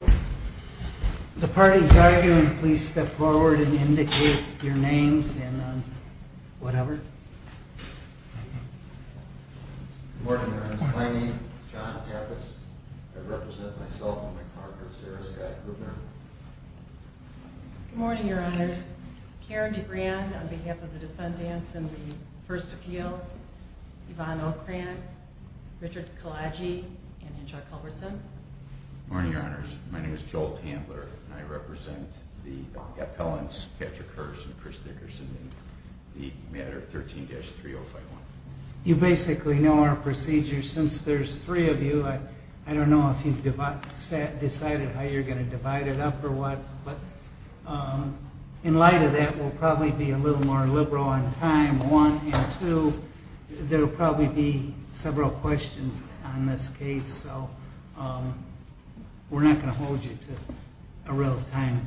Good morning, Your Honors. My name is John Pappas. I represent myself and my partner, Sarah Scott Grubner. Good morning, Your Honors. Karen DeGrande on behalf of the defendants in the first appeal, Yvonne Ocrant, Richard Kalaji, and Angela Culberson. Good morning, Your Honors. My name is Joel Handler, and I represent the appellants, Patrick Hurst and Chris Dickerson, in the matter 13-3051. You basically know our procedure. Since there's three of you, I don't know if you've decided how you're going to divide it up or what, but in light of that, we'll probably be a little more liberal on time. One and two, there will probably be several questions on this case, so we're not going to hold you to a real time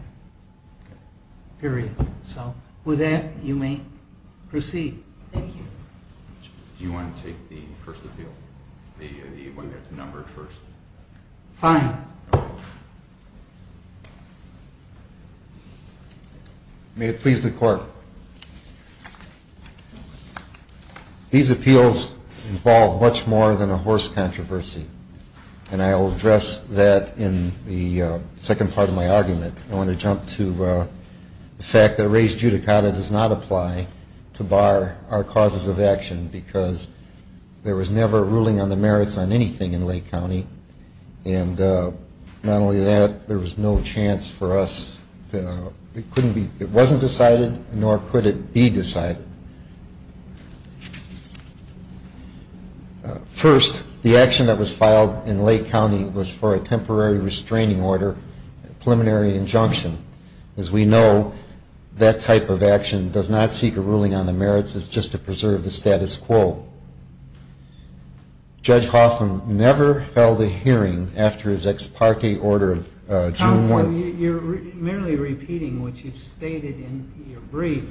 period. So with that, you may proceed. Thank you. Do you want to take the first appeal, the one that's numbered first? Fine. May it please the Court. These appeals involve much more than a horse controversy, and I will address that in the second part of my argument. I want to jump to the fact that res judicata does not apply to bar our causes of action because there was never a ruling on the merits on anything in Lake County, and not only that, there was no chance for us. It wasn't decided, nor could it be decided. First, the action that was filed in Lake County was for a temporary restraining order, a preliminary injunction. As we know, that type of action does not seek a ruling on the merits. It's just to preserve the status quo. Judge Hoffman never held a hearing after his ex parte order of June 1. Counsel, you're merely repeating what you've stated in your brief.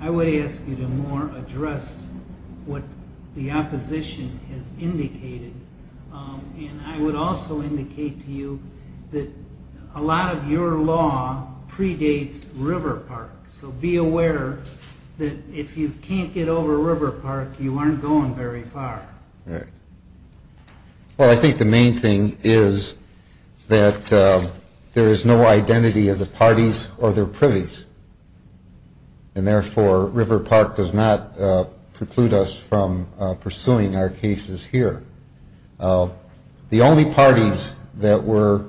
I would ask you to more address what the opposition has indicated, and I would also indicate to you that a lot of your law predates River Park. So be aware that if you can't get over River Park, you aren't going very far. Well, I think the main thing is that there is no identity of the parties or their privies, and therefore River Park does not preclude us from pursuing our cases here. The only parties that were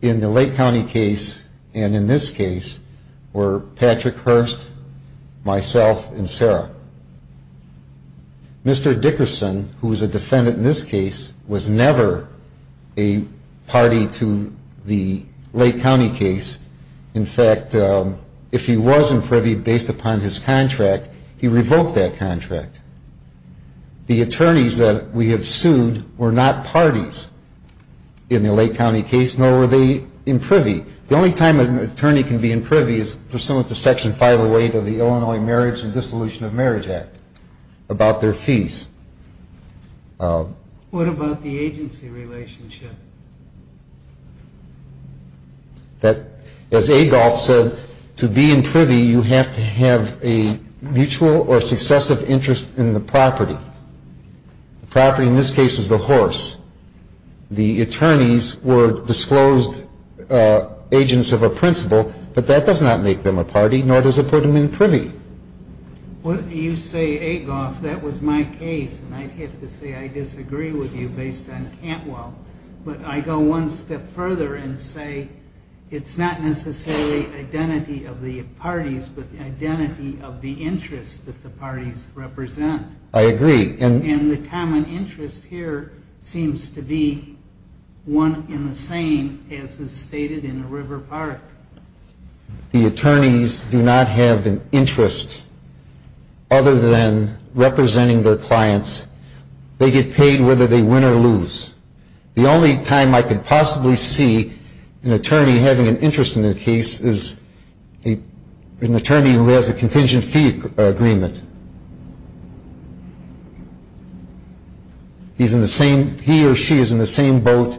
in the Lake County case and in this case were Patrick Hurst, myself, and Sarah. Mr. Dickerson, who is a defendant in this case, was never a party to the Lake County case. In fact, if he was in privy based upon his contract, he revoked that contract. The attorneys that we have sued were not parties in the Lake County case, nor were they in privy. The only time an attorney can be in privy is pursuant to Section 508 of the Illinois Marriage and Dissolution of Marriage Act about their fees. What about the agency relationship? As Adolph said, to be in privy, you have to have a mutual or successive interest in the property. The property in this case was the horse. The attorneys were disclosed agents of a principal, but that does not make them a party, nor does it put them in privy. Well, you say, Adolph, that was my case, and I'd have to say I disagree with you based on Cantwell. But I go one step further and say it's not necessarily identity of the parties, but the identity of the interest that the parties represent. I agree. And the common interest here seems to be one in the same as is stated in River Park. The attorneys do not have an interest other than representing their clients. They get paid whether they win or lose. The only time I could possibly see an attorney having an interest in the case is an attorney who has a contingent fee agreement. He or she is in the same boat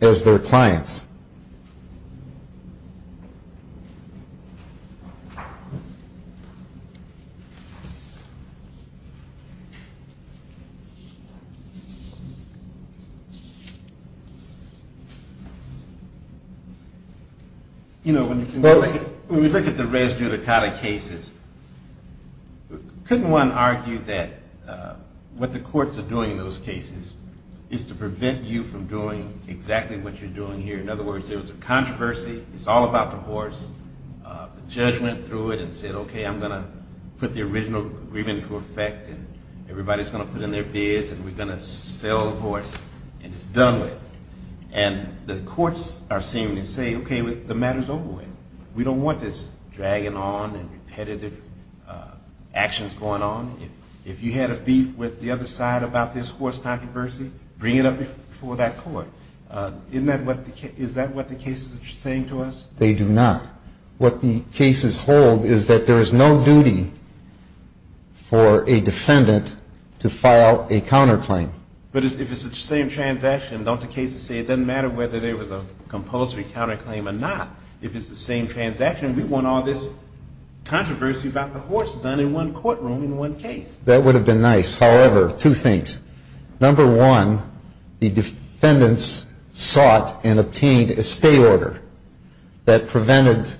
as their clients. You know, when you look at the res judicata cases, couldn't one argue that what the courts are doing in those cases is to prevent you from doing exactly what you're doing here? In other words, there was a controversy. It's all about the horse. The judge went through it and said, okay, I'm going to put the original agreement into effect, and everybody's going to put in their bids, and we're going to sell the horse, and it's done with. And the courts are seeming to say, okay, the matter's over with. We don't want this dragging on and repetitive actions going on. If you had a beef with the other side about this horse controversy, bring it up before that court. Isn't that what the case is saying to us? They do not. What the cases hold is that there is no duty for a defendant to file a counterclaim. But if it's the same transaction, don't the cases say it doesn't matter whether there was a compulsory counterclaim or not? If it's the same transaction, we want all this controversy about the horse done in one courtroom in one case. That would have been nice. However, two things. Number one, the defendants sought and obtained a stay order that prevented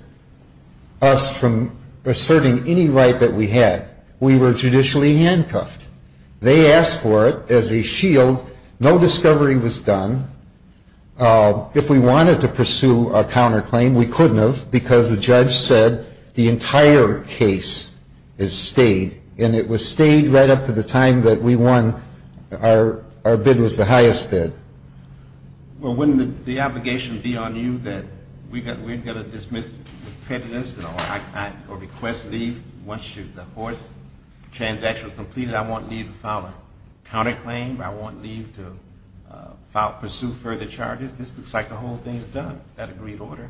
us from asserting any right that we had. We were judicially handcuffed. They asked for it as a shield. No discovery was done. If we wanted to pursue a counterclaim, we couldn't have because the judge said the entire case is stayed, and it was stayed right up to the time that we won. Our bid was the highest bid. Well, wouldn't the obligation be on you that we've got to dismiss the prejudice or request leave once the horse transaction is completed? I won't need to file a counterclaim. I won't need to pursue further charges. This looks like the whole thing is done, that agreed order.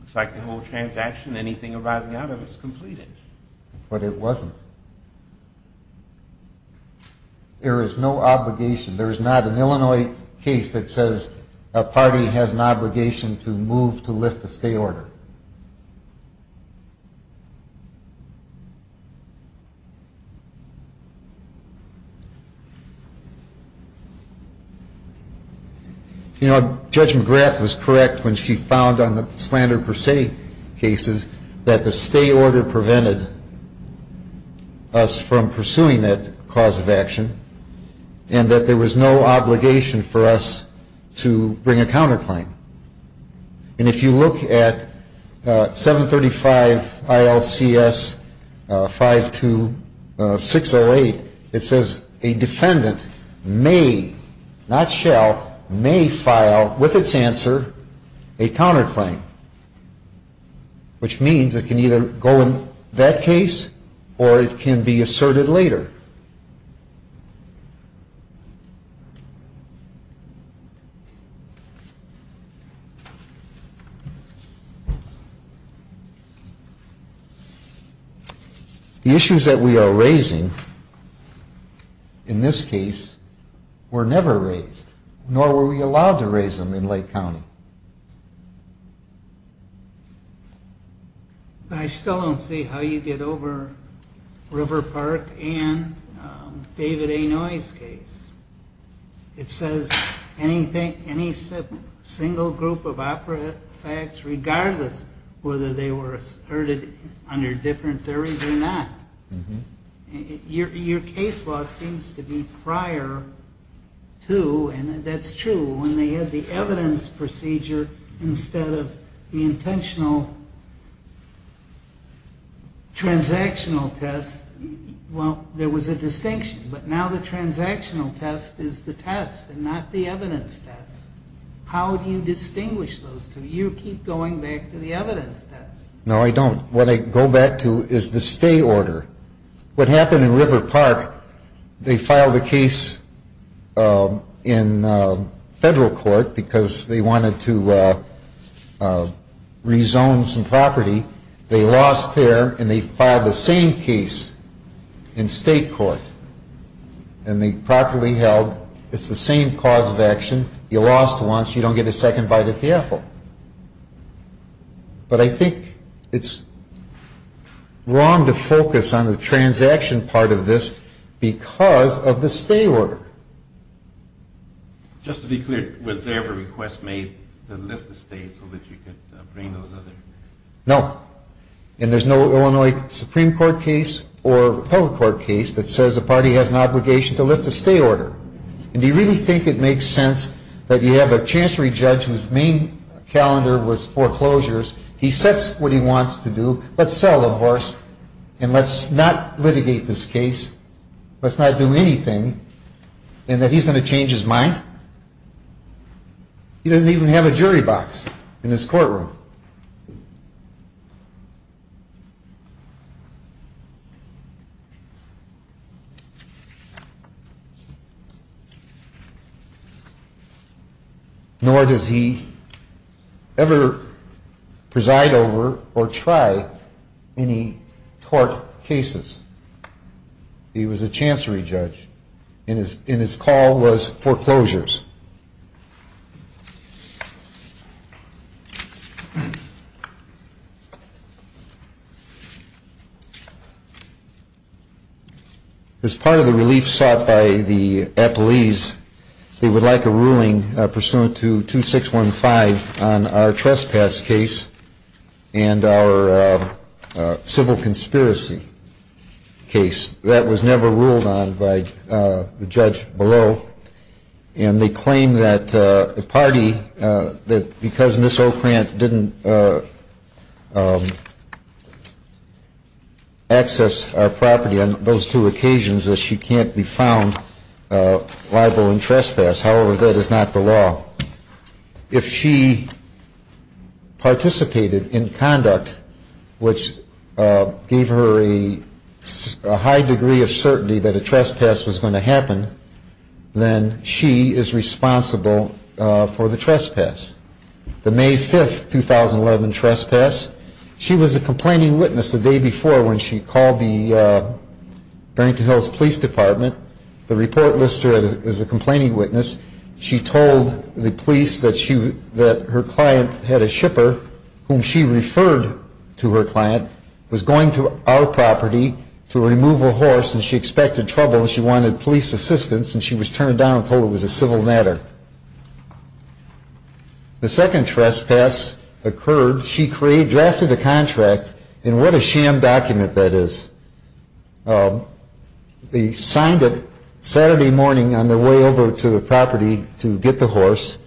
Looks like the whole transaction, anything arising out of it, is completed. But it wasn't. There is no obligation. There is not an Illinois case that says a party has an obligation to move to lift a stay order. You know, Judge McGrath was correct when she found on the slander per se cases that the stay order prevented us from pursuing that cause of action, and that there was no obligation for us to bring a counterclaim. And if you look at 735 ILCS 52608, it says a defendant may, not shall, may file with its answer a counterclaim, which means it can either go in that case or it can be asserted later. The issues that we are raising in this case were never raised, nor were we allowed to raise them in Lake County. But I still don't see how you get over River Park and David A. Noye's case. It says any single group of operative facts, regardless whether they were asserted under different theories or not. Your case law seems to be prior to, and that's true, when they had the evidence procedure instead of the intentional transactional test. Well, there was a distinction. But now the transactional test is the test and not the evidence test. How do you distinguish those two? You keep going back to the evidence test. No, I don't. What I go back to is the stay order. What happened in River Park, they filed a case in federal court because they wanted to rezone some property. They lost there, and they filed the same case in state court. And they properly held it's the same cause of action. You lost once. You don't get a second bite at the apple. But I think it's wrong to focus on the transaction part of this because of the stay order. Just to be clear, was there ever a request made to lift the stay so that you could bring those other? No. And there's no Illinois Supreme Court case or public court case that says the party has an obligation to lift a stay order. And do you really think it makes sense that you have a chancellery judge whose main calendar was foreclosures. He sets what he wants to do. Let's sell the horse, and let's not litigate this case. Let's not do anything. And that he's going to change his mind? He doesn't even have a jury box in his courtroom. Nor does he ever preside over or try any tort cases. He was a chancellery judge, and his call was foreclosures. As part of the relief sought by the appellees, they would like a ruling pursuant to 2615 on our trespass case and our civil conspiracy. That was never ruled on by the judge below. And they claim that the party, that because Ms. O'Krant didn't access our property on those two occasions, that she can't be found liable in trespass. However, that is not the law. If she participated in conduct which gave her a high degree of certainty that a trespass was going to happen, then she is responsible for the trespass. The May 5, 2011 trespass, she was a complaining witness the day before when she called the Barrington Hills Police Department. The report lists her as a complaining witness. She told the police that her client had a shipper, whom she referred to her client, was going to our property to remove a horse, and she expected trouble. She wanted police assistance, and she was turned down and told it was a civil matter. The second trespass occurred, she drafted a contract, and what a sham document that is. They signed it Saturday morning on their way over to the property to get the horse.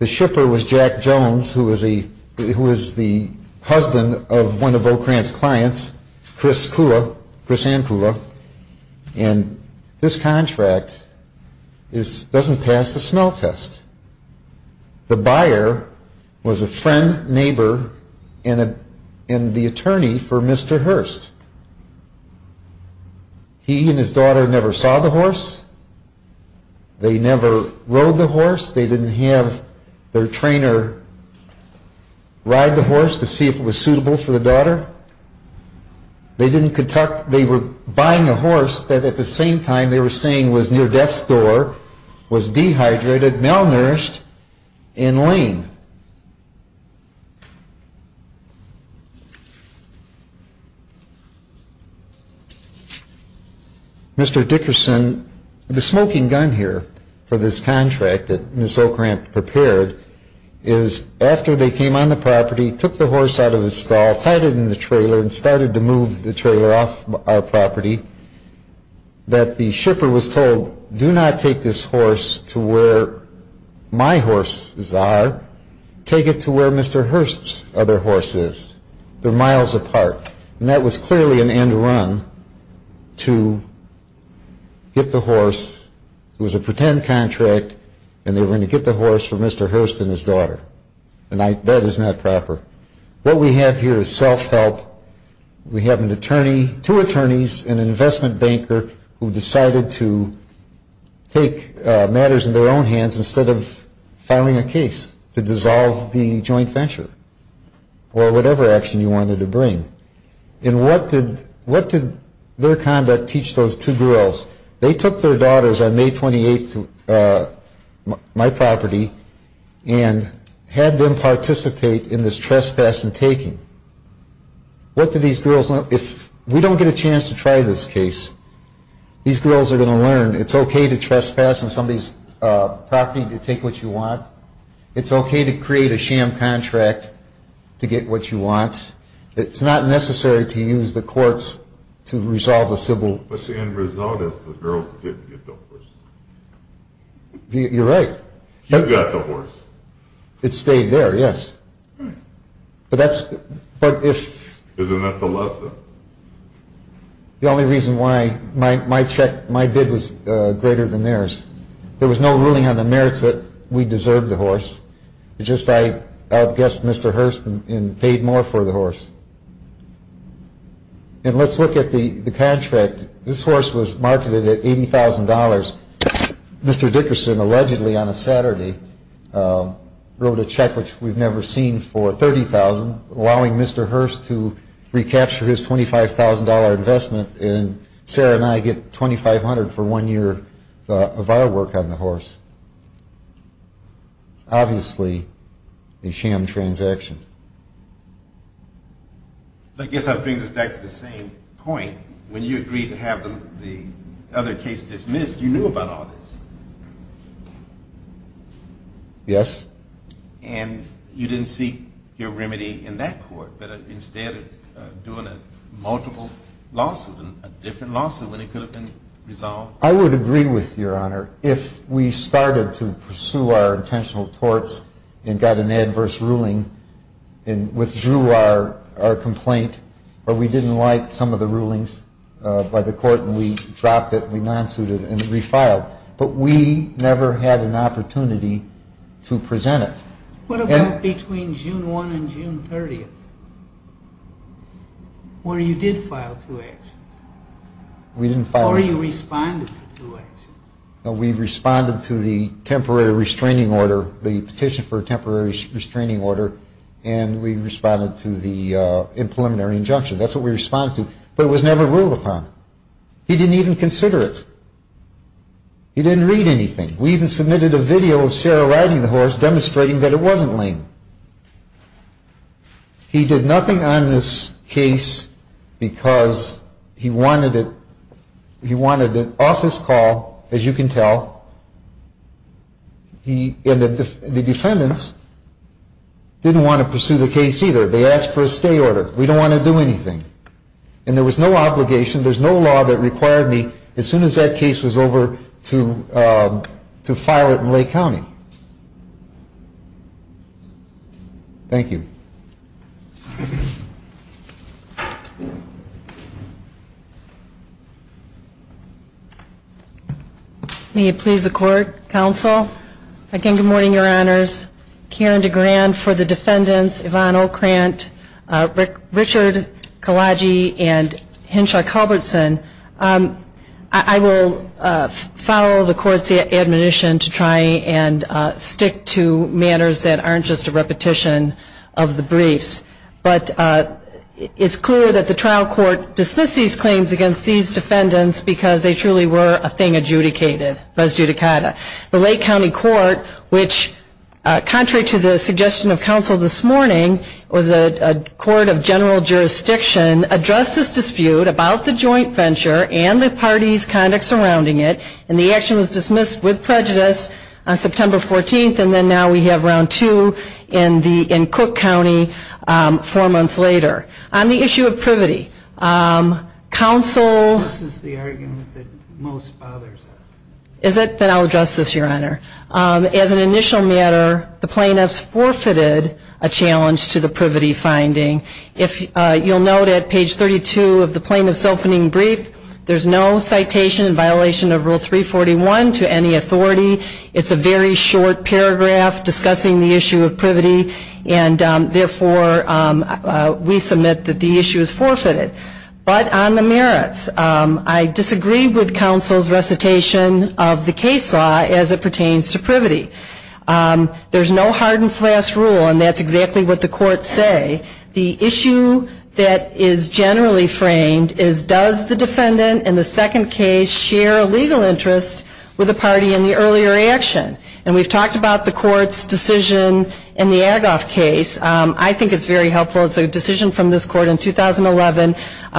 The shipper was Jack Jones, who was the husband of one of O'Krant's clients, Chris Kula, Chris Ann Kula. And this contract doesn't pass the smell test. The buyer was a friend, neighbor, and the attorney for Mr. Hurst. He and his daughter never saw the horse, they never rode the horse, they didn't have their trainer ride the horse to see if it was suitable for the daughter. They were buying a horse that at the same time they were saying was near death's door, was dehydrated, malnourished, and lame. Mr. Dickerson, the smoking gun here for this contract that Ms. O'Krant prepared is after they came on the property, took the horse out of its stall, tied it in the trailer, and started to move the trailer off our property, that the shipper was told, do not take this horse to where my horses are, take it to where Mr. Hurst's other horse is. They're miles apart, and that was clearly an end run to get the horse, it was a pretend contract, and they were going to get the horse for Mr. Hurst and his daughter, and that is not proper. What we have here is self-help, we have an attorney, two attorneys, and an investment banker, who decided to take matters into their own hands instead of filing a case to dissolve the joint venture. Or whatever action you wanted to bring, and what did their conduct teach those two girls? They took their daughters on May 28th to my property, and had them participate in this trespass and taking. What do these girls, if we don't get a chance to try this case, these girls are going to learn it's okay to trespass on somebody's property to take what you want, it's okay to create a sham contract to get what you want, it's not necessary to use the courts to resolve a civil... But the end result is the girls didn't get the horse. You're right. You got the horse. It stayed there, yes. Isn't that the lesson? The only reason why my check, my bid was greater than theirs. There was no ruling on the merits that we deserved the horse, it's just I outguessed Mr. Hurst and paid more for the horse. And let's look at the contract. This horse was marketed at $80,000. Mr. Dickerson, allegedly on a Saturday, wrote a check which we've never seen for $30,000, allowing Mr. Hurst to recapture his $25,000 investment, and Sarah and I get $2,500 for one year of our work on the horse. Obviously, a sham transaction. I guess I'm bringing it back to the same point. When you agreed to have the other case dismissed, you knew about all this. Yes. And you didn't seek your remedy in that court, but instead of doing a multiple lawsuit, a different lawsuit when it could have been resolved? I would agree with Your Honor. If we started to pursue our intentional torts and got an adverse ruling and withdrew our complaint or we didn't like some of the rulings by the court and we dropped it and we non-suited it and refiled, but we never had an opportunity to present it. What about between June 1 and June 30, where you did file two actions? We didn't file them. Or you responded to two actions? No, we responded to the temporary restraining order, the petition for a temporary restraining order, and we responded to the impreliminary injunction. That's what we responded to, but it was never ruled upon. He didn't even consider it. He didn't read anything. We even submitted a video of Sarah riding the horse, demonstrating that it wasn't lame. He did nothing on this case because he wanted it off his call, as you can tell. And the defendants didn't want to pursue the case either. They asked for a stay order. We don't want to do anything. And there was no obligation, there's no law that required me, as soon as that case was over, to file it in Lake County. Thank you. May it please the Court, Counsel. Again, good morning, Your Honors. Karen DeGran for the defendants, Yvonne O'Krant, Richard Kalaji, and Henshaw Culbertson. I will follow the Court's admonition to try and stick to matters that aren't just a repetition of the briefs, but it's clear that the trial court dismissed these claims against these defendants because they truly were a thing adjudicated, res judicata. The Lake County Court, which, contrary to the suggestion of counsel this morning, was a court of general jurisdiction, addressed this dispute about the joint venture and the party's conduct surrounding it. And the action was dismissed with prejudice on September 14th, and then now we have round two in Cook County four months later. On the issue of privity, counsel... This is the argument that most bothers us. Is it? Then I'll address this, Your Honor. As an initial matter, the plaintiffs forfeited a challenge to the privity finding. If you'll note at page 32 of the plaintiff's opening brief, there's no citation in violation of Rule 341 to any authority. It's a very short paragraph discussing the issue of privity, and therefore we submit that the issue is forfeited. But on the merits, I disagree with counsel's recitation of the case law as it pertains to privity. There's no hard and fast rule, and that's exactly what the courts say. The issue that is generally framed is, does the defendant in the second case share a legal interest with the party in the earlier action? And we've talked about the court's decision in the Agoff case. I think it's very helpful. It's a decision from this court in 2011.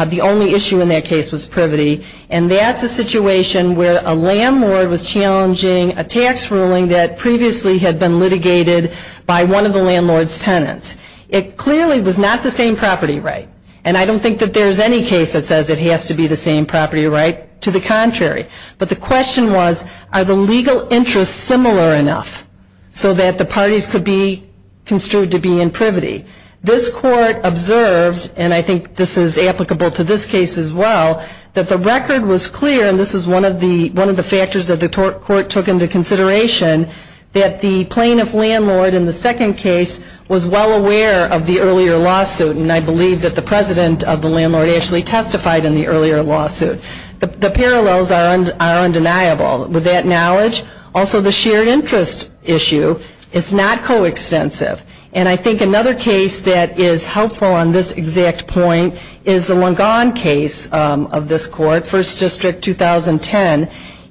The only issue in that case was privity, and that's a situation where a landlord was challenging a tax ruling that previously had been litigated by one of the landlord's tenants. It clearly was not the same property right, and I don't think that there's any case that says it has to be the same property right. To the contrary. But the question was, are the legal interests similar enough so that the parties could be construed to be in privity? This court observed, and I think this is applicable to this case as well, that the record was clear, and this was one of the factors that the court took into consideration, that the plaintiff-landlord in the second case was well aware of the earlier lawsuit, and I believe that the president of the landlord actually testified in the earlier lawsuit. The parallels are undeniable. With that knowledge, also the shared interest issue is not coextensive. And I think another case that is helpful on this exact point is the Longan case of this court, First District, 2010,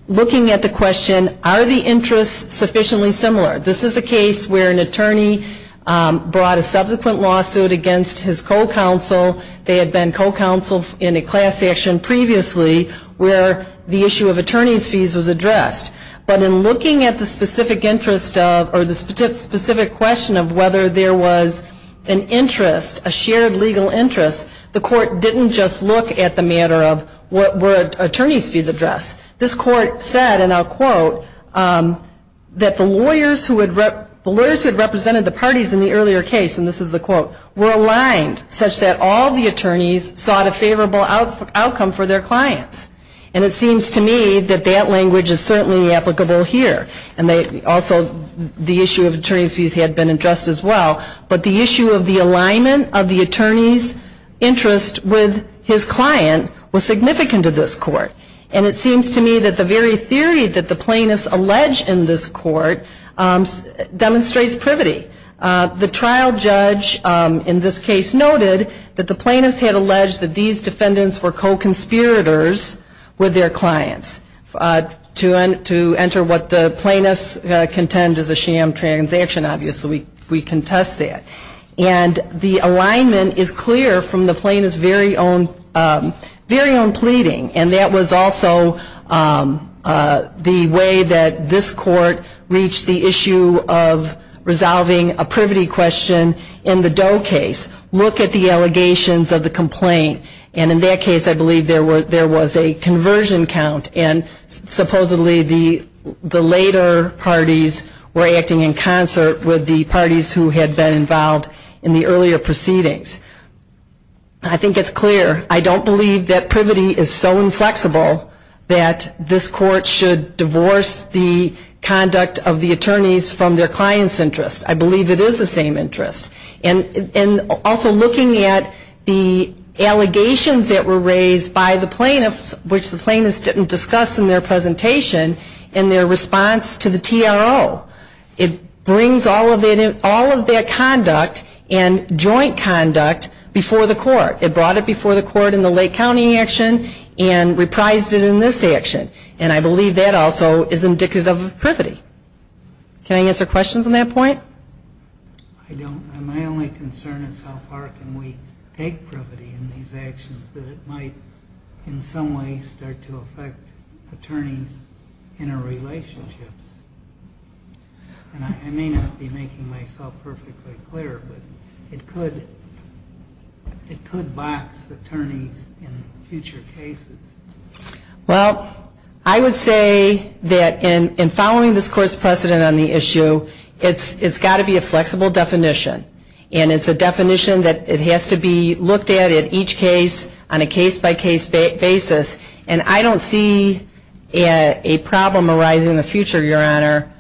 looking at the question, are the interests sufficiently similar? This is a case where an attorney brought a subsequent lawsuit against his co-counsel. They had been co-counsel in a class action previously where the issue of attorney's fees was addressed. But in looking at the specific interest of, or the specific question of whether there was an interest, a shared legal interest, the court didn't just look at the matter of, were attorney's fees addressed? This court said, and I'll quote, that the lawyers who had represented the parties in the earlier case, and this is the quote, were aligned such that all the attorneys sought a favorable outcome for their clients. And it seems to me that that language is certainly applicable here. And also the issue of attorney's fees had been addressed as well. But the issue of the alignment of the attorney's interest with his client was significant to this court. And it seems to me that the very theory that the plaintiffs allege in this court demonstrates privity. The trial judge in this case noted that the plaintiffs had alleged that these defendants were co-conspirators with their clients. To enter what the plaintiffs contend is a sham transaction, obviously we contest that. And the alignment is clear from the plaintiffs' very own pleading. And that was also the way that this court reached the issue of resolving a privity question in the Doe case. Look at the allegations of the complaint. And in that case I believe there was a conversion count. And supposedly the later parties were acting in concert with the parties who had been involved in the earlier proceedings. I think it's clear. I don't believe that privity is so inflexible that this court should divorce the conduct of the attorneys from their client's interest. I believe it is the same interest. And also looking at the allegations that were raised by the plaintiffs, which the plaintiffs didn't discuss in their presentation, in their response to the TRO. It brings all of that conduct and joint conduct before the court. It brought it before the court in the Lake County action and reprised it in this action. And I believe that also is indicative of privity. Can I answer questions on that point? I don't know. My only concern is how far can we take privity in these actions that it might in some ways start to affect attorneys' interrelationships. And I may not be making myself perfectly clear, but it could box attorneys in future cases. Well, I would say that in following this court's precedent on the issue, it's got to be a flexible definition. And it's a definition that it has to be looked at at each case on a case-by-case basis. And I don't see a problem arising in the future, Your Honor,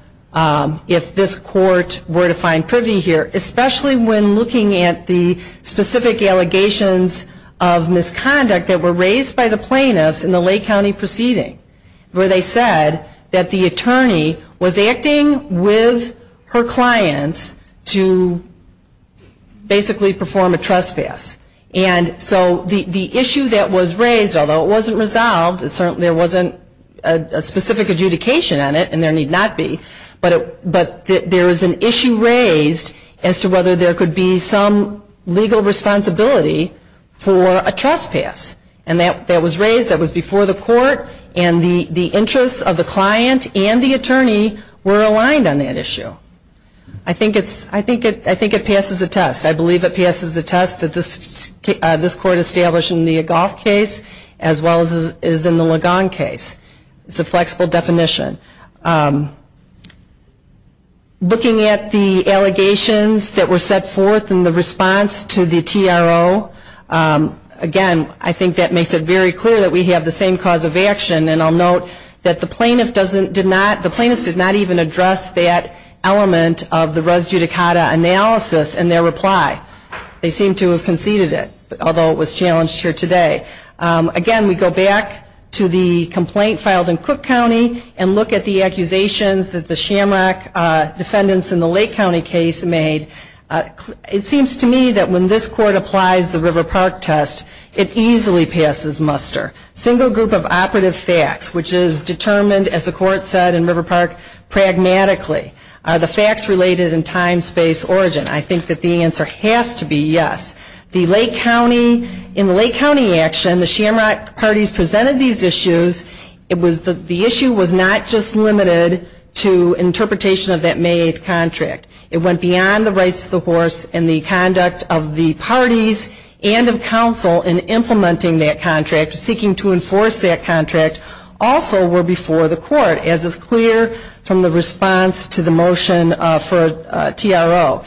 if this court were to find privity here, especially when looking at the specific allegations of misconduct that were raised by the plaintiffs in the Lake County proceeding, where they said that the attorney was acting with her clients to basically perform a trespass. And so the issue that was raised, although it wasn't resolved, there wasn't a specific adjudication on it, and there need not be, but there is an issue raised as to whether there could be some legal responsibility for a trespass. And that was raised, that was before the court, and the interests of the client and the attorney were aligned on that issue. I think it passes the test. I believe it passes the test that this court established in the Agoff case as well as in the Ligon case. It's a flexible definition. Looking at the allegations that were set forth in the response to the TRO, again, I think that makes it very clear that we have the same cause of action. And I'll note that the plaintiff did not even address that element of the res judicata analysis in their reply. They seem to have conceded it, although it was challenged here today. Again, we go back to the complaint filed in Cook County and look at the accusations that the Shamrock defendants in the Lake County case made. It seems to me that when this court applies the River Park test, it easily passes muster. Single group of operative facts, which is determined, as the court said in River Park, pragmatically. Are the facts related in time, space, origin? I think that the answer has to be yes. In the Lake County action, the Shamrock parties presented these issues. The issue was not just limited to interpretation of that May 8th contract. It went beyond the race of the horse and the conduct of the parties and of counsel in implementing that contract, seeking to enforce that contract, also were before the court, as is clear from the response to the motion for TRO.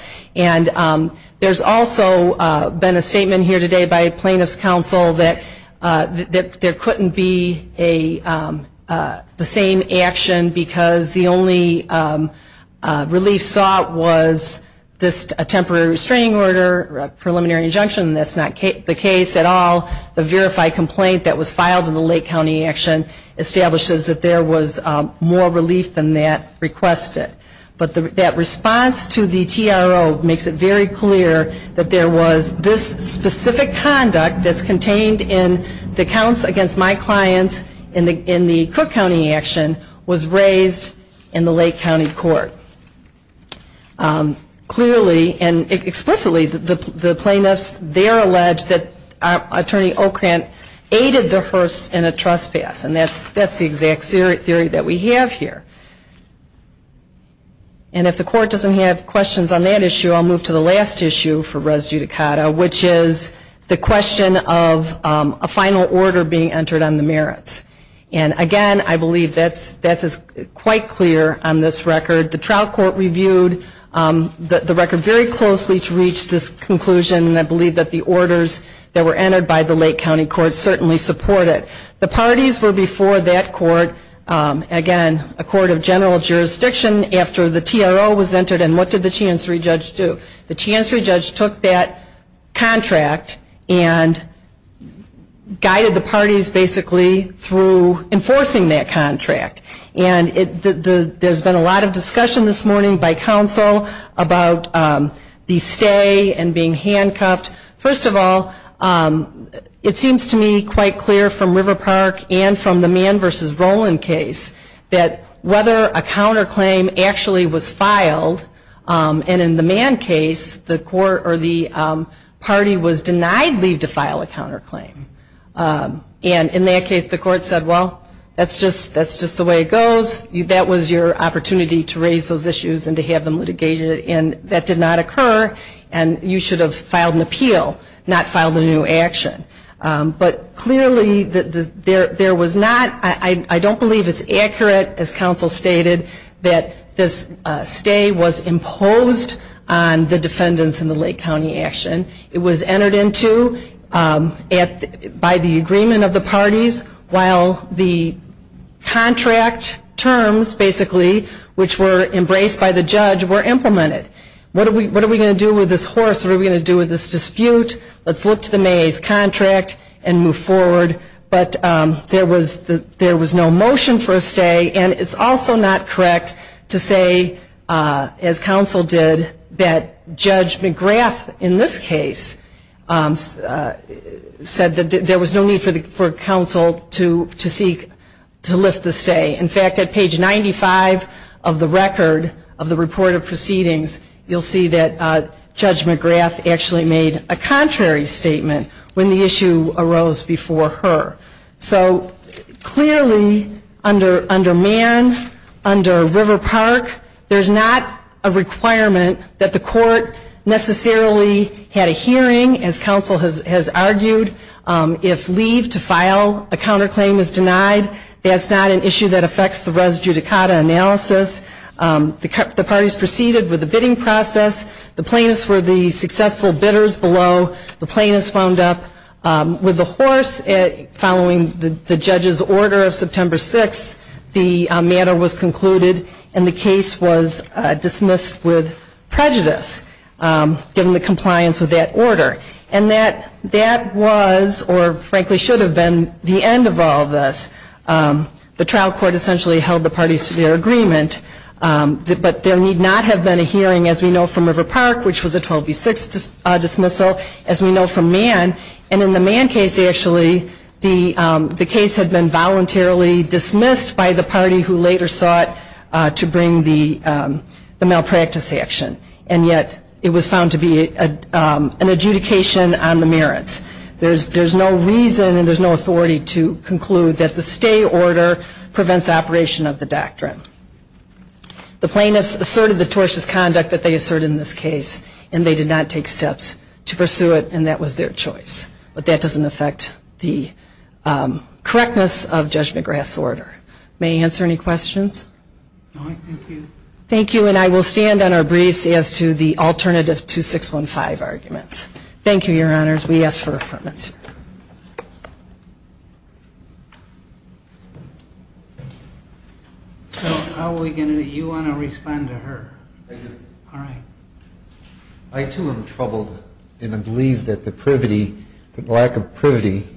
There's also been a statement here today by plaintiff's counsel that there couldn't be the same action because the only relief sought was a temporary restraining order or a preliminary injunction. That's not the case at all. The verified complaint that was filed in the Lake County action establishes that there was more relief than that requested. But that response to the TRO makes it very clear that there was this specific conduct that's contained in the counts against my clients in the Cook County action was raised in the Lake County court. Clearly and explicitly, the plaintiffs there allege that Attorney Ocrant aided the horse in a trespass. And that's the exact theory that we have here. And if the court doesn't have questions on that issue, I'll move to the last issue for res judicata, which is the question of a final order being entered on the merits. And again, I believe that's quite clear on this record. The trial court reviewed the record very closely to reach this conclusion. And I believe that the orders that were entered by the Lake County court certainly support it. The parties were before that court. Again, a court of general jurisdiction after the TRO was entered. And what did the Chancery judge do? The Chancery judge took that contract and guided the parties basically through enforcing that contract. And there's been a lot of discussion this morning by counsel about the stay and being handcuffed. First of all, it seems to me quite clear from River Park and from the Mann v. Roland case that whether a counterclaim actually was filed, and in the Mann case, the party was denied leave to file a counterclaim. And in that case, the court said, well, that's just the way it goes. That was your opportunity to raise those issues and to have them litigated. And that did not occur. And you should have filed an appeal, not filed a new action. But clearly, there was not, I don't believe it's accurate, as counsel stated, that this stay was imposed on the defendants in the Lake County action. It was entered into by the agreement of the parties while the contract terms, basically, which were embraced by the judge, were implemented. What are we going to do with this horse? What are we going to do with this dispute? Let's look to the May 8th contract and move forward. But there was no motion for a stay, and it's also not correct to say, as counsel did, that Judge McGrath, in this case, said that there was no need for counsel to seek to lift the stay. In fact, at page 95 of the record of the report of proceedings, you'll see that Judge McGrath actually made a contrary statement when the issue arose before her. So clearly, under Mann, under River Park, there's not a requirement that the court necessarily had a hearing, as counsel has argued. If leave to file a counterclaim is denied, that's not an issue that affects the res judicata analysis. The parties proceeded with the bidding process. The plaintiffs were the successful bidders below. The plaintiffs wound up with the horse following the judge's order of September 6th. The matter was concluded, and the case was dismissed with prejudice, given the compliance of that order. And that was, or frankly should have been, the end of all of this. The trial court essentially held the parties to their agreement. But there need not have been a hearing, as we know from River Park, which was a 12B6 dismissal, as we know from Mann. And in the Mann case, actually, the case had been voluntarily dismissed by the party who later sought to bring the malpractice action. And yet, it was found to be an adjudication on the merits. There's no reason and there's no authority to conclude that the stay order prevents operation of the doctrine. The plaintiffs asserted the tortious conduct that they asserted in this case, and they did not take steps to pursue it, and that was their choice. But that doesn't affect the correctness of Judge McGrath's order. May I answer any questions? No, thank you. Thank you, and I will stand on our briefs as to the alternative 2615 arguments. Thank you, Your Honors. We ask for affirmation. So how are we going to, do you want to respond to her? I do. All right. I, too, am troubled, and I believe that the privity, the lack of privity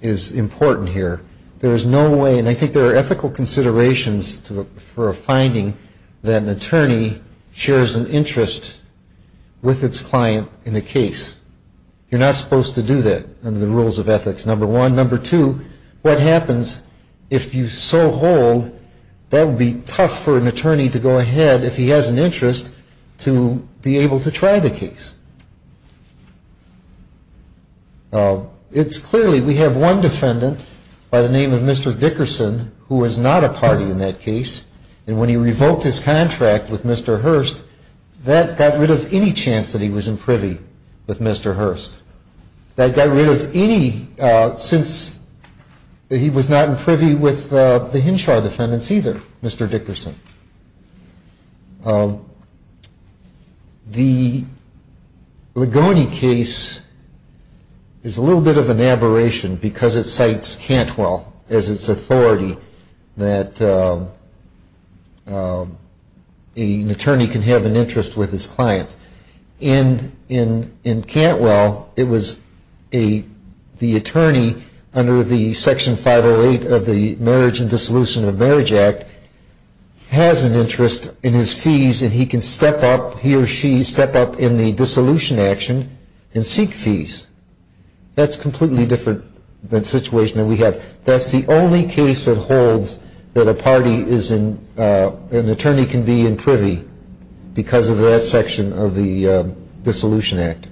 is important here. There is no way, and I think there are ethical considerations for a finding that an attorney shares an interest with its client in a case. You're not supposed to do that under the rules of ethics, number one. Number two, what happens if you so hold, that would be tough for an attorney to go ahead, if he has an interest, to be able to try the case. It's clearly, we have one defendant by the name of Mr. Dickerson who is not a party in that case, and when he revoked his contract with Mr. Hurst, that got rid of any chance that he was in privy with Mr. Hurst. That got rid of any, since he was not in privy with the Hinshaw defendants either, Mr. Dickerson. The Ligoni case is a little bit of an aberration, because it cites Cantwell as its authority that an attorney can have an interest with his clients. In Cantwell, it was the attorney under the Section 508 of the Marriage and Dissolution of Marriage Act has an interest in his fees, and he can step up, he or she step up in the dissolution action and seek fees. That's completely different than the situation that we have. That's the only case that holds that an attorney can be in privy because of that section of the Dissolution Act.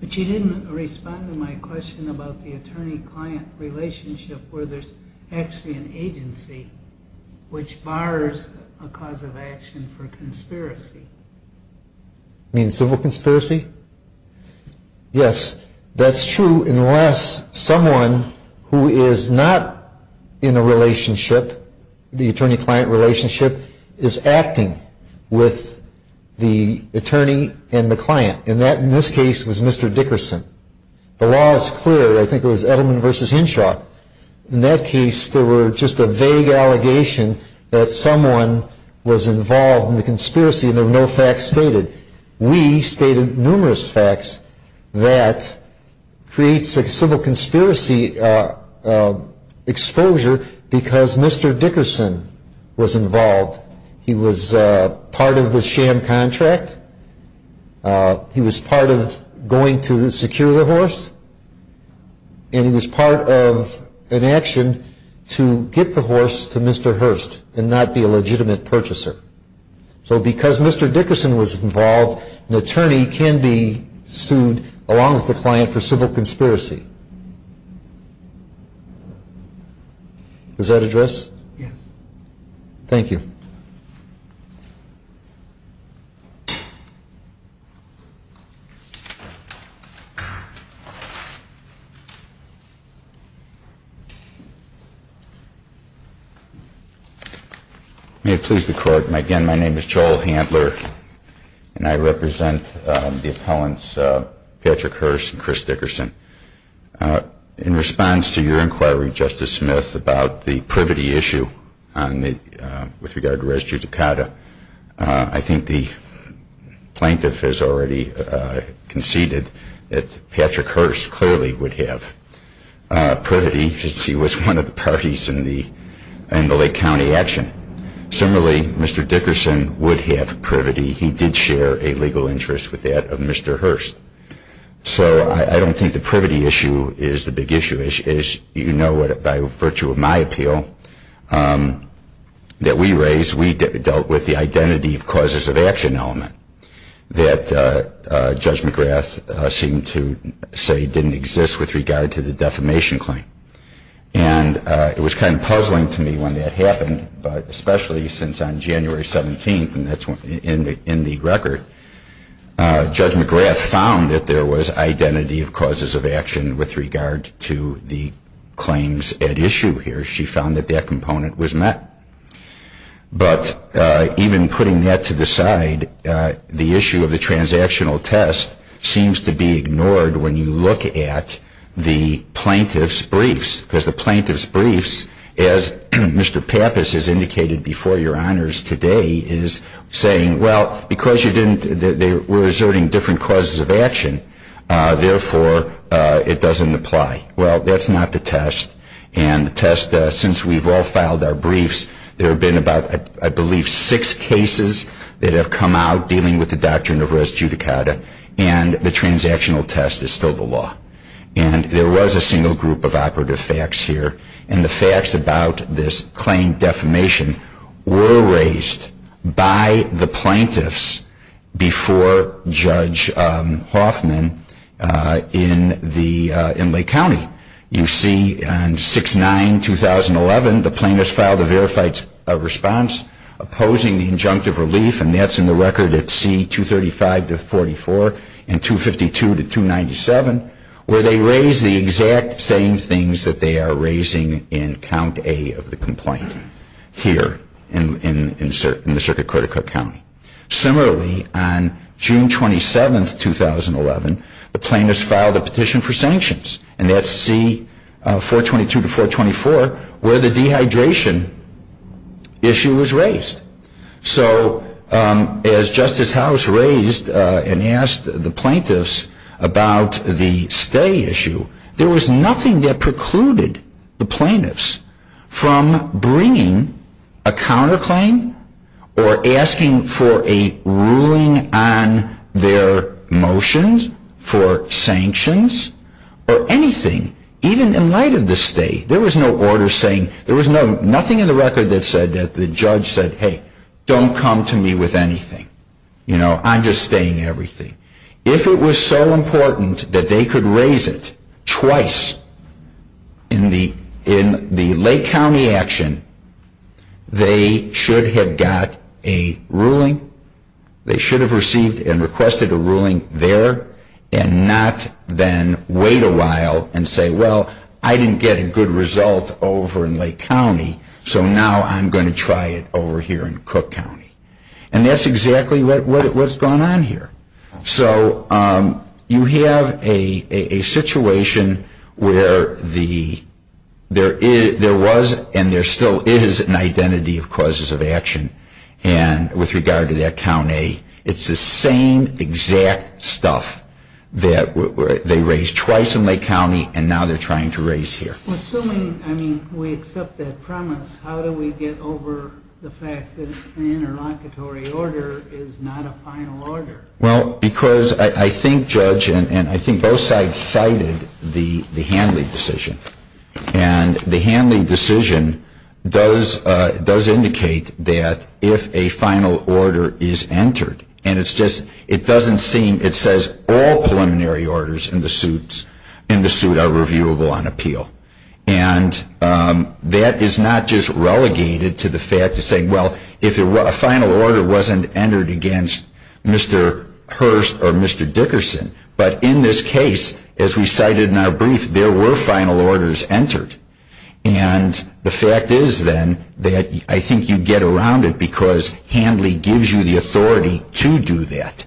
But you didn't respond to my question about the attorney-client relationship where there's actually an agency, which bars a cause of action for conspiracy. You mean civil conspiracy? Yes, that's true, unless someone who is not in a relationship, the attorney-client relationship, is acting with the attorney and the client. And that, in this case, was Mr. Dickerson. The law is clear. I think it was Edelman v. Hinshaw. In that case, there were just a vague allegation that someone was involved in the conspiracy and there were no facts stated. We stated numerous facts that creates a civil conspiracy exposure because Mr. Dickerson was involved. He was part of the sham contract. He was part of going to secure the horse. And he was part of an action to get the horse to Mr. Hurst and not be a legitimate purchaser. So because Mr. Dickerson was involved, an attorney can be sued along with the client for civil conspiracy. Does that address? Yes. Thank you. May it please the Court, again, my name is Joel Handler and I represent the appellants Patrick Hurst and Chris Dickerson. In response to your inquiry, Justice Smith, about the privity issue with regard to res judicata, I think the plaintiff has already conceded that Patrick Hurst clearly would have privity because he was one of the parties in the Lake County action. Similarly, Mr. Dickerson would have privity. He did share a legal interest with that of Mr. Hurst. So I don't think the privity issue is the big issue. As you know, by virtue of my appeal that we raised, we dealt with the identity of causes of action element that Judge McGrath seemed to say didn't exist with regard to the defamation claim. And it was kind of puzzling to me when that happened, but especially since on January 17th, in the record, Judge McGrath found that there was identity of causes of action with regard to the claims at issue here. She found that that component was met. But even putting that to the side, the issue of the transactional test seems to be ignored when you look at the plaintiff's briefs. Because the plaintiff's briefs, as Mr. Pappas has indicated before your honors today, is saying, well, because we're asserting different causes of action, therefore, it doesn't apply. Well, that's not the test. And the test, since we've all filed our briefs, there have been about, I believe, six cases that have come out dealing with the doctrine of res judicata, and the transactional test is still the law. And there was a single group of operative facts here. And the facts about this claim defamation were raised by the plaintiffs before Judge Hoffman in Lake County. You see on 6-9-2011, the plaintiffs filed a verified response opposing the injunctive relief, and that's in the record at C-235-44 and 252-297, where they raise the exact same things that they are raising in Count A of the complaint here in the Circuit Court of Cook County. Similarly, on June 27, 2011, the plaintiffs filed a petition for sanctions, and that's C-422-424, So as Justice House raised and asked the plaintiffs about the stay issue, there was nothing that precluded the plaintiffs from bringing a counterclaim or asking for a ruling on their motions for sanctions or anything, even in light of the stay. There was no order saying, there was nothing in the record that said that the judge said, hey, don't come to me with anything. You know, I'm just staying everything. If it was so important that they could raise it twice in the Lake County action, they should have got a ruling. They should have received and requested a ruling there and not then wait a while and say, well, I didn't get a good result over in Lake County, so now I'm going to try it over here in Cook County. And that's exactly what's going on here. So you have a situation where there was and there still is an identity of causes of action, and with regard to that Count A, it's the same exact stuff that they raised twice in Lake County and now they're trying to raise here. Assuming, I mean, we accept that promise, how do we get over the fact that an interlocutory order is not a final order? Well, because I think Judge and I think both sides cited the Hanley decision, and the Hanley decision does indicate that if a final order is entered, and it's just, it doesn't seem, it says all preliminary orders in the suit are reviewable on appeal. And that is not just relegated to the fact of saying, well, if a final order wasn't entered against Mr. Hurst or Mr. Dickerson, but in this case, as we cited in our brief, there were final orders entered. And the fact is, then, that I think you get around it because Hanley gives you the authority to do that.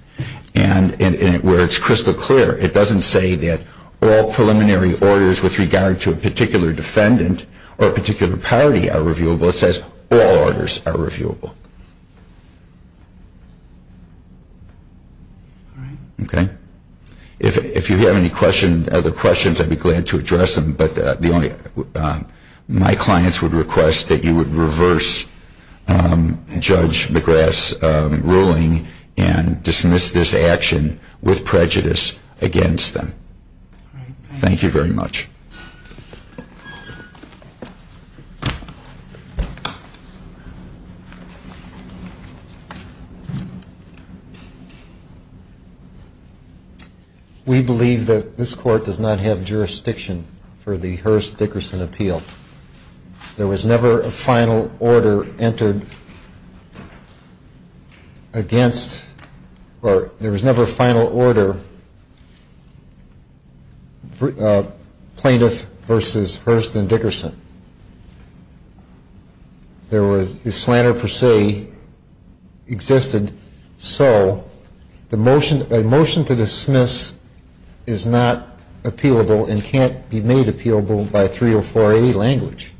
And where it's crystal clear, it doesn't say that all preliminary orders with regard to a particular defendant or a particular party are reviewable. It says all orders are reviewable. All right. Okay. If you have any questions, other questions, I'd be glad to address them. But my clients would request that you would reverse Judge McGrath's ruling and dismiss this action with prejudice against them. All right. Thank you very much. Thank you. We believe that this Court does not have jurisdiction for the Hurst-Dickerson appeal. There was never a final order entered against or there was never a final order plaintiff versus Hurst and Dickerson. There was, the slander per se existed. So a motion to dismiss is not appealable and can't be made appealable by 304A language.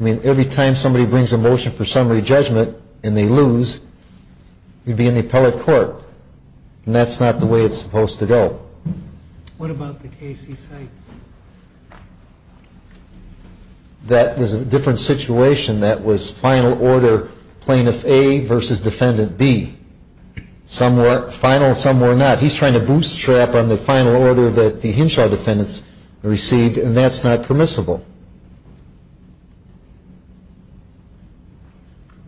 I mean, every time somebody brings a motion for summary judgment and they lose, you'd be in the appellate court. And that's not the way it's supposed to go. What about the case he cites? That was a different situation. That was final order plaintiff A versus defendant B. Some were final, some were not. He's trying to bootstrap on the final order that the Henshaw defendants received, and that's not permissible.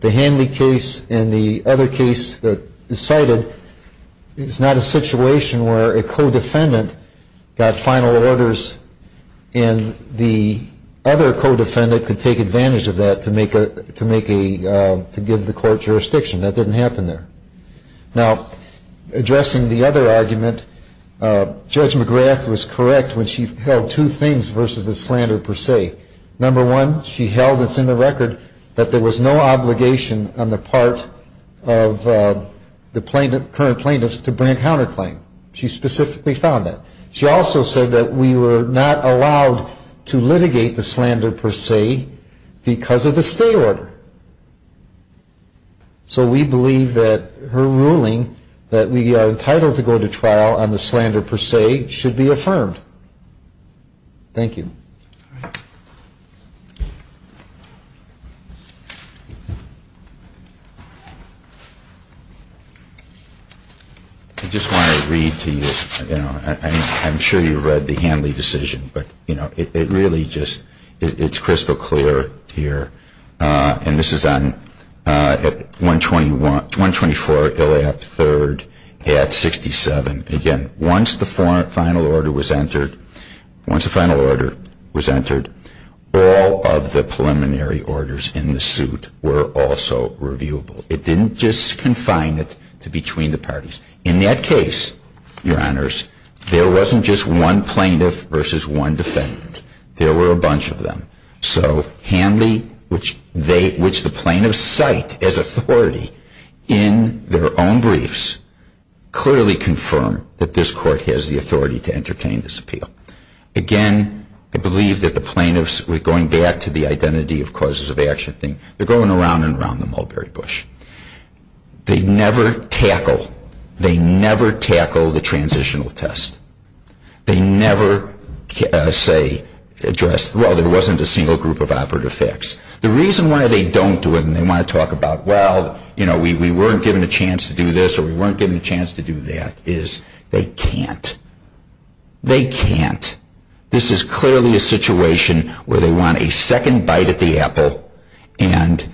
The Hanley case and the other case that is cited is not a situation where a co-defendant got final orders and the other co-defendant could take advantage of that to make a, to give the court jurisdiction. That didn't happen there. Now, addressing the other argument, Judge McGrath was correct when she held two things versus the slander per se. Number one, she held, it's in the record, that there was no obligation on the part of the current plaintiffs to bring a counterclaim. She specifically found that. She also said that we were not allowed to litigate the slander per se because of the stay order. So we believe that her ruling that we are entitled to go to trial on the slander per se should be affirmed. Thank you. I just want to read to you, I'm sure you've read the Hanley decision, but it really just, it's crystal clear here. And this is on 124 Illiop III at 67. Again, once the final order was entered, all of the preliminary orders in the suit were also reviewable. It didn't just confine it to between the parties. In that case, Your Honors, there wasn't just one plaintiff versus one defendant. There were a bunch of them. So Hanley, which the plaintiffs cite as authority in their own briefs, clearly confirmed that this Court has the authority to entertain this appeal. Again, I believe that the plaintiffs, going back to the identity of causes of action thing, they're going around and around the Mulberry Bush. They never tackle, they never tackle the transitional test. They never, say, address, well, there wasn't a single group of operative facts. The reason why they don't do it and they want to talk about, well, we weren't given a chance to do this or we weren't given a chance to do that, is they can't. They can't. This is clearly a situation where they want a second bite at the apple and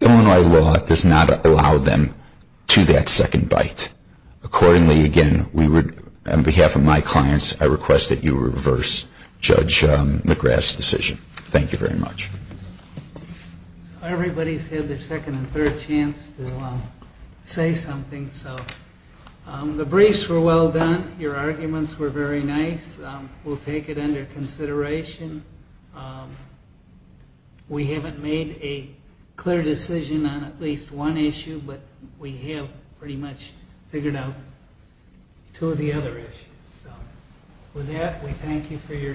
Illinois law does not allow them to that second bite. Accordingly, again, on behalf of my clients, I request that you reverse Judge McGrath's decision. Thank you very much. Everybody's had their second and third chance to say something. The briefs were well done. Your arguments were very nice. We'll take it under consideration. We haven't made a clear decision on at least one issue, but we have pretty much figured out two of the other issues. With that, we thank you for your time.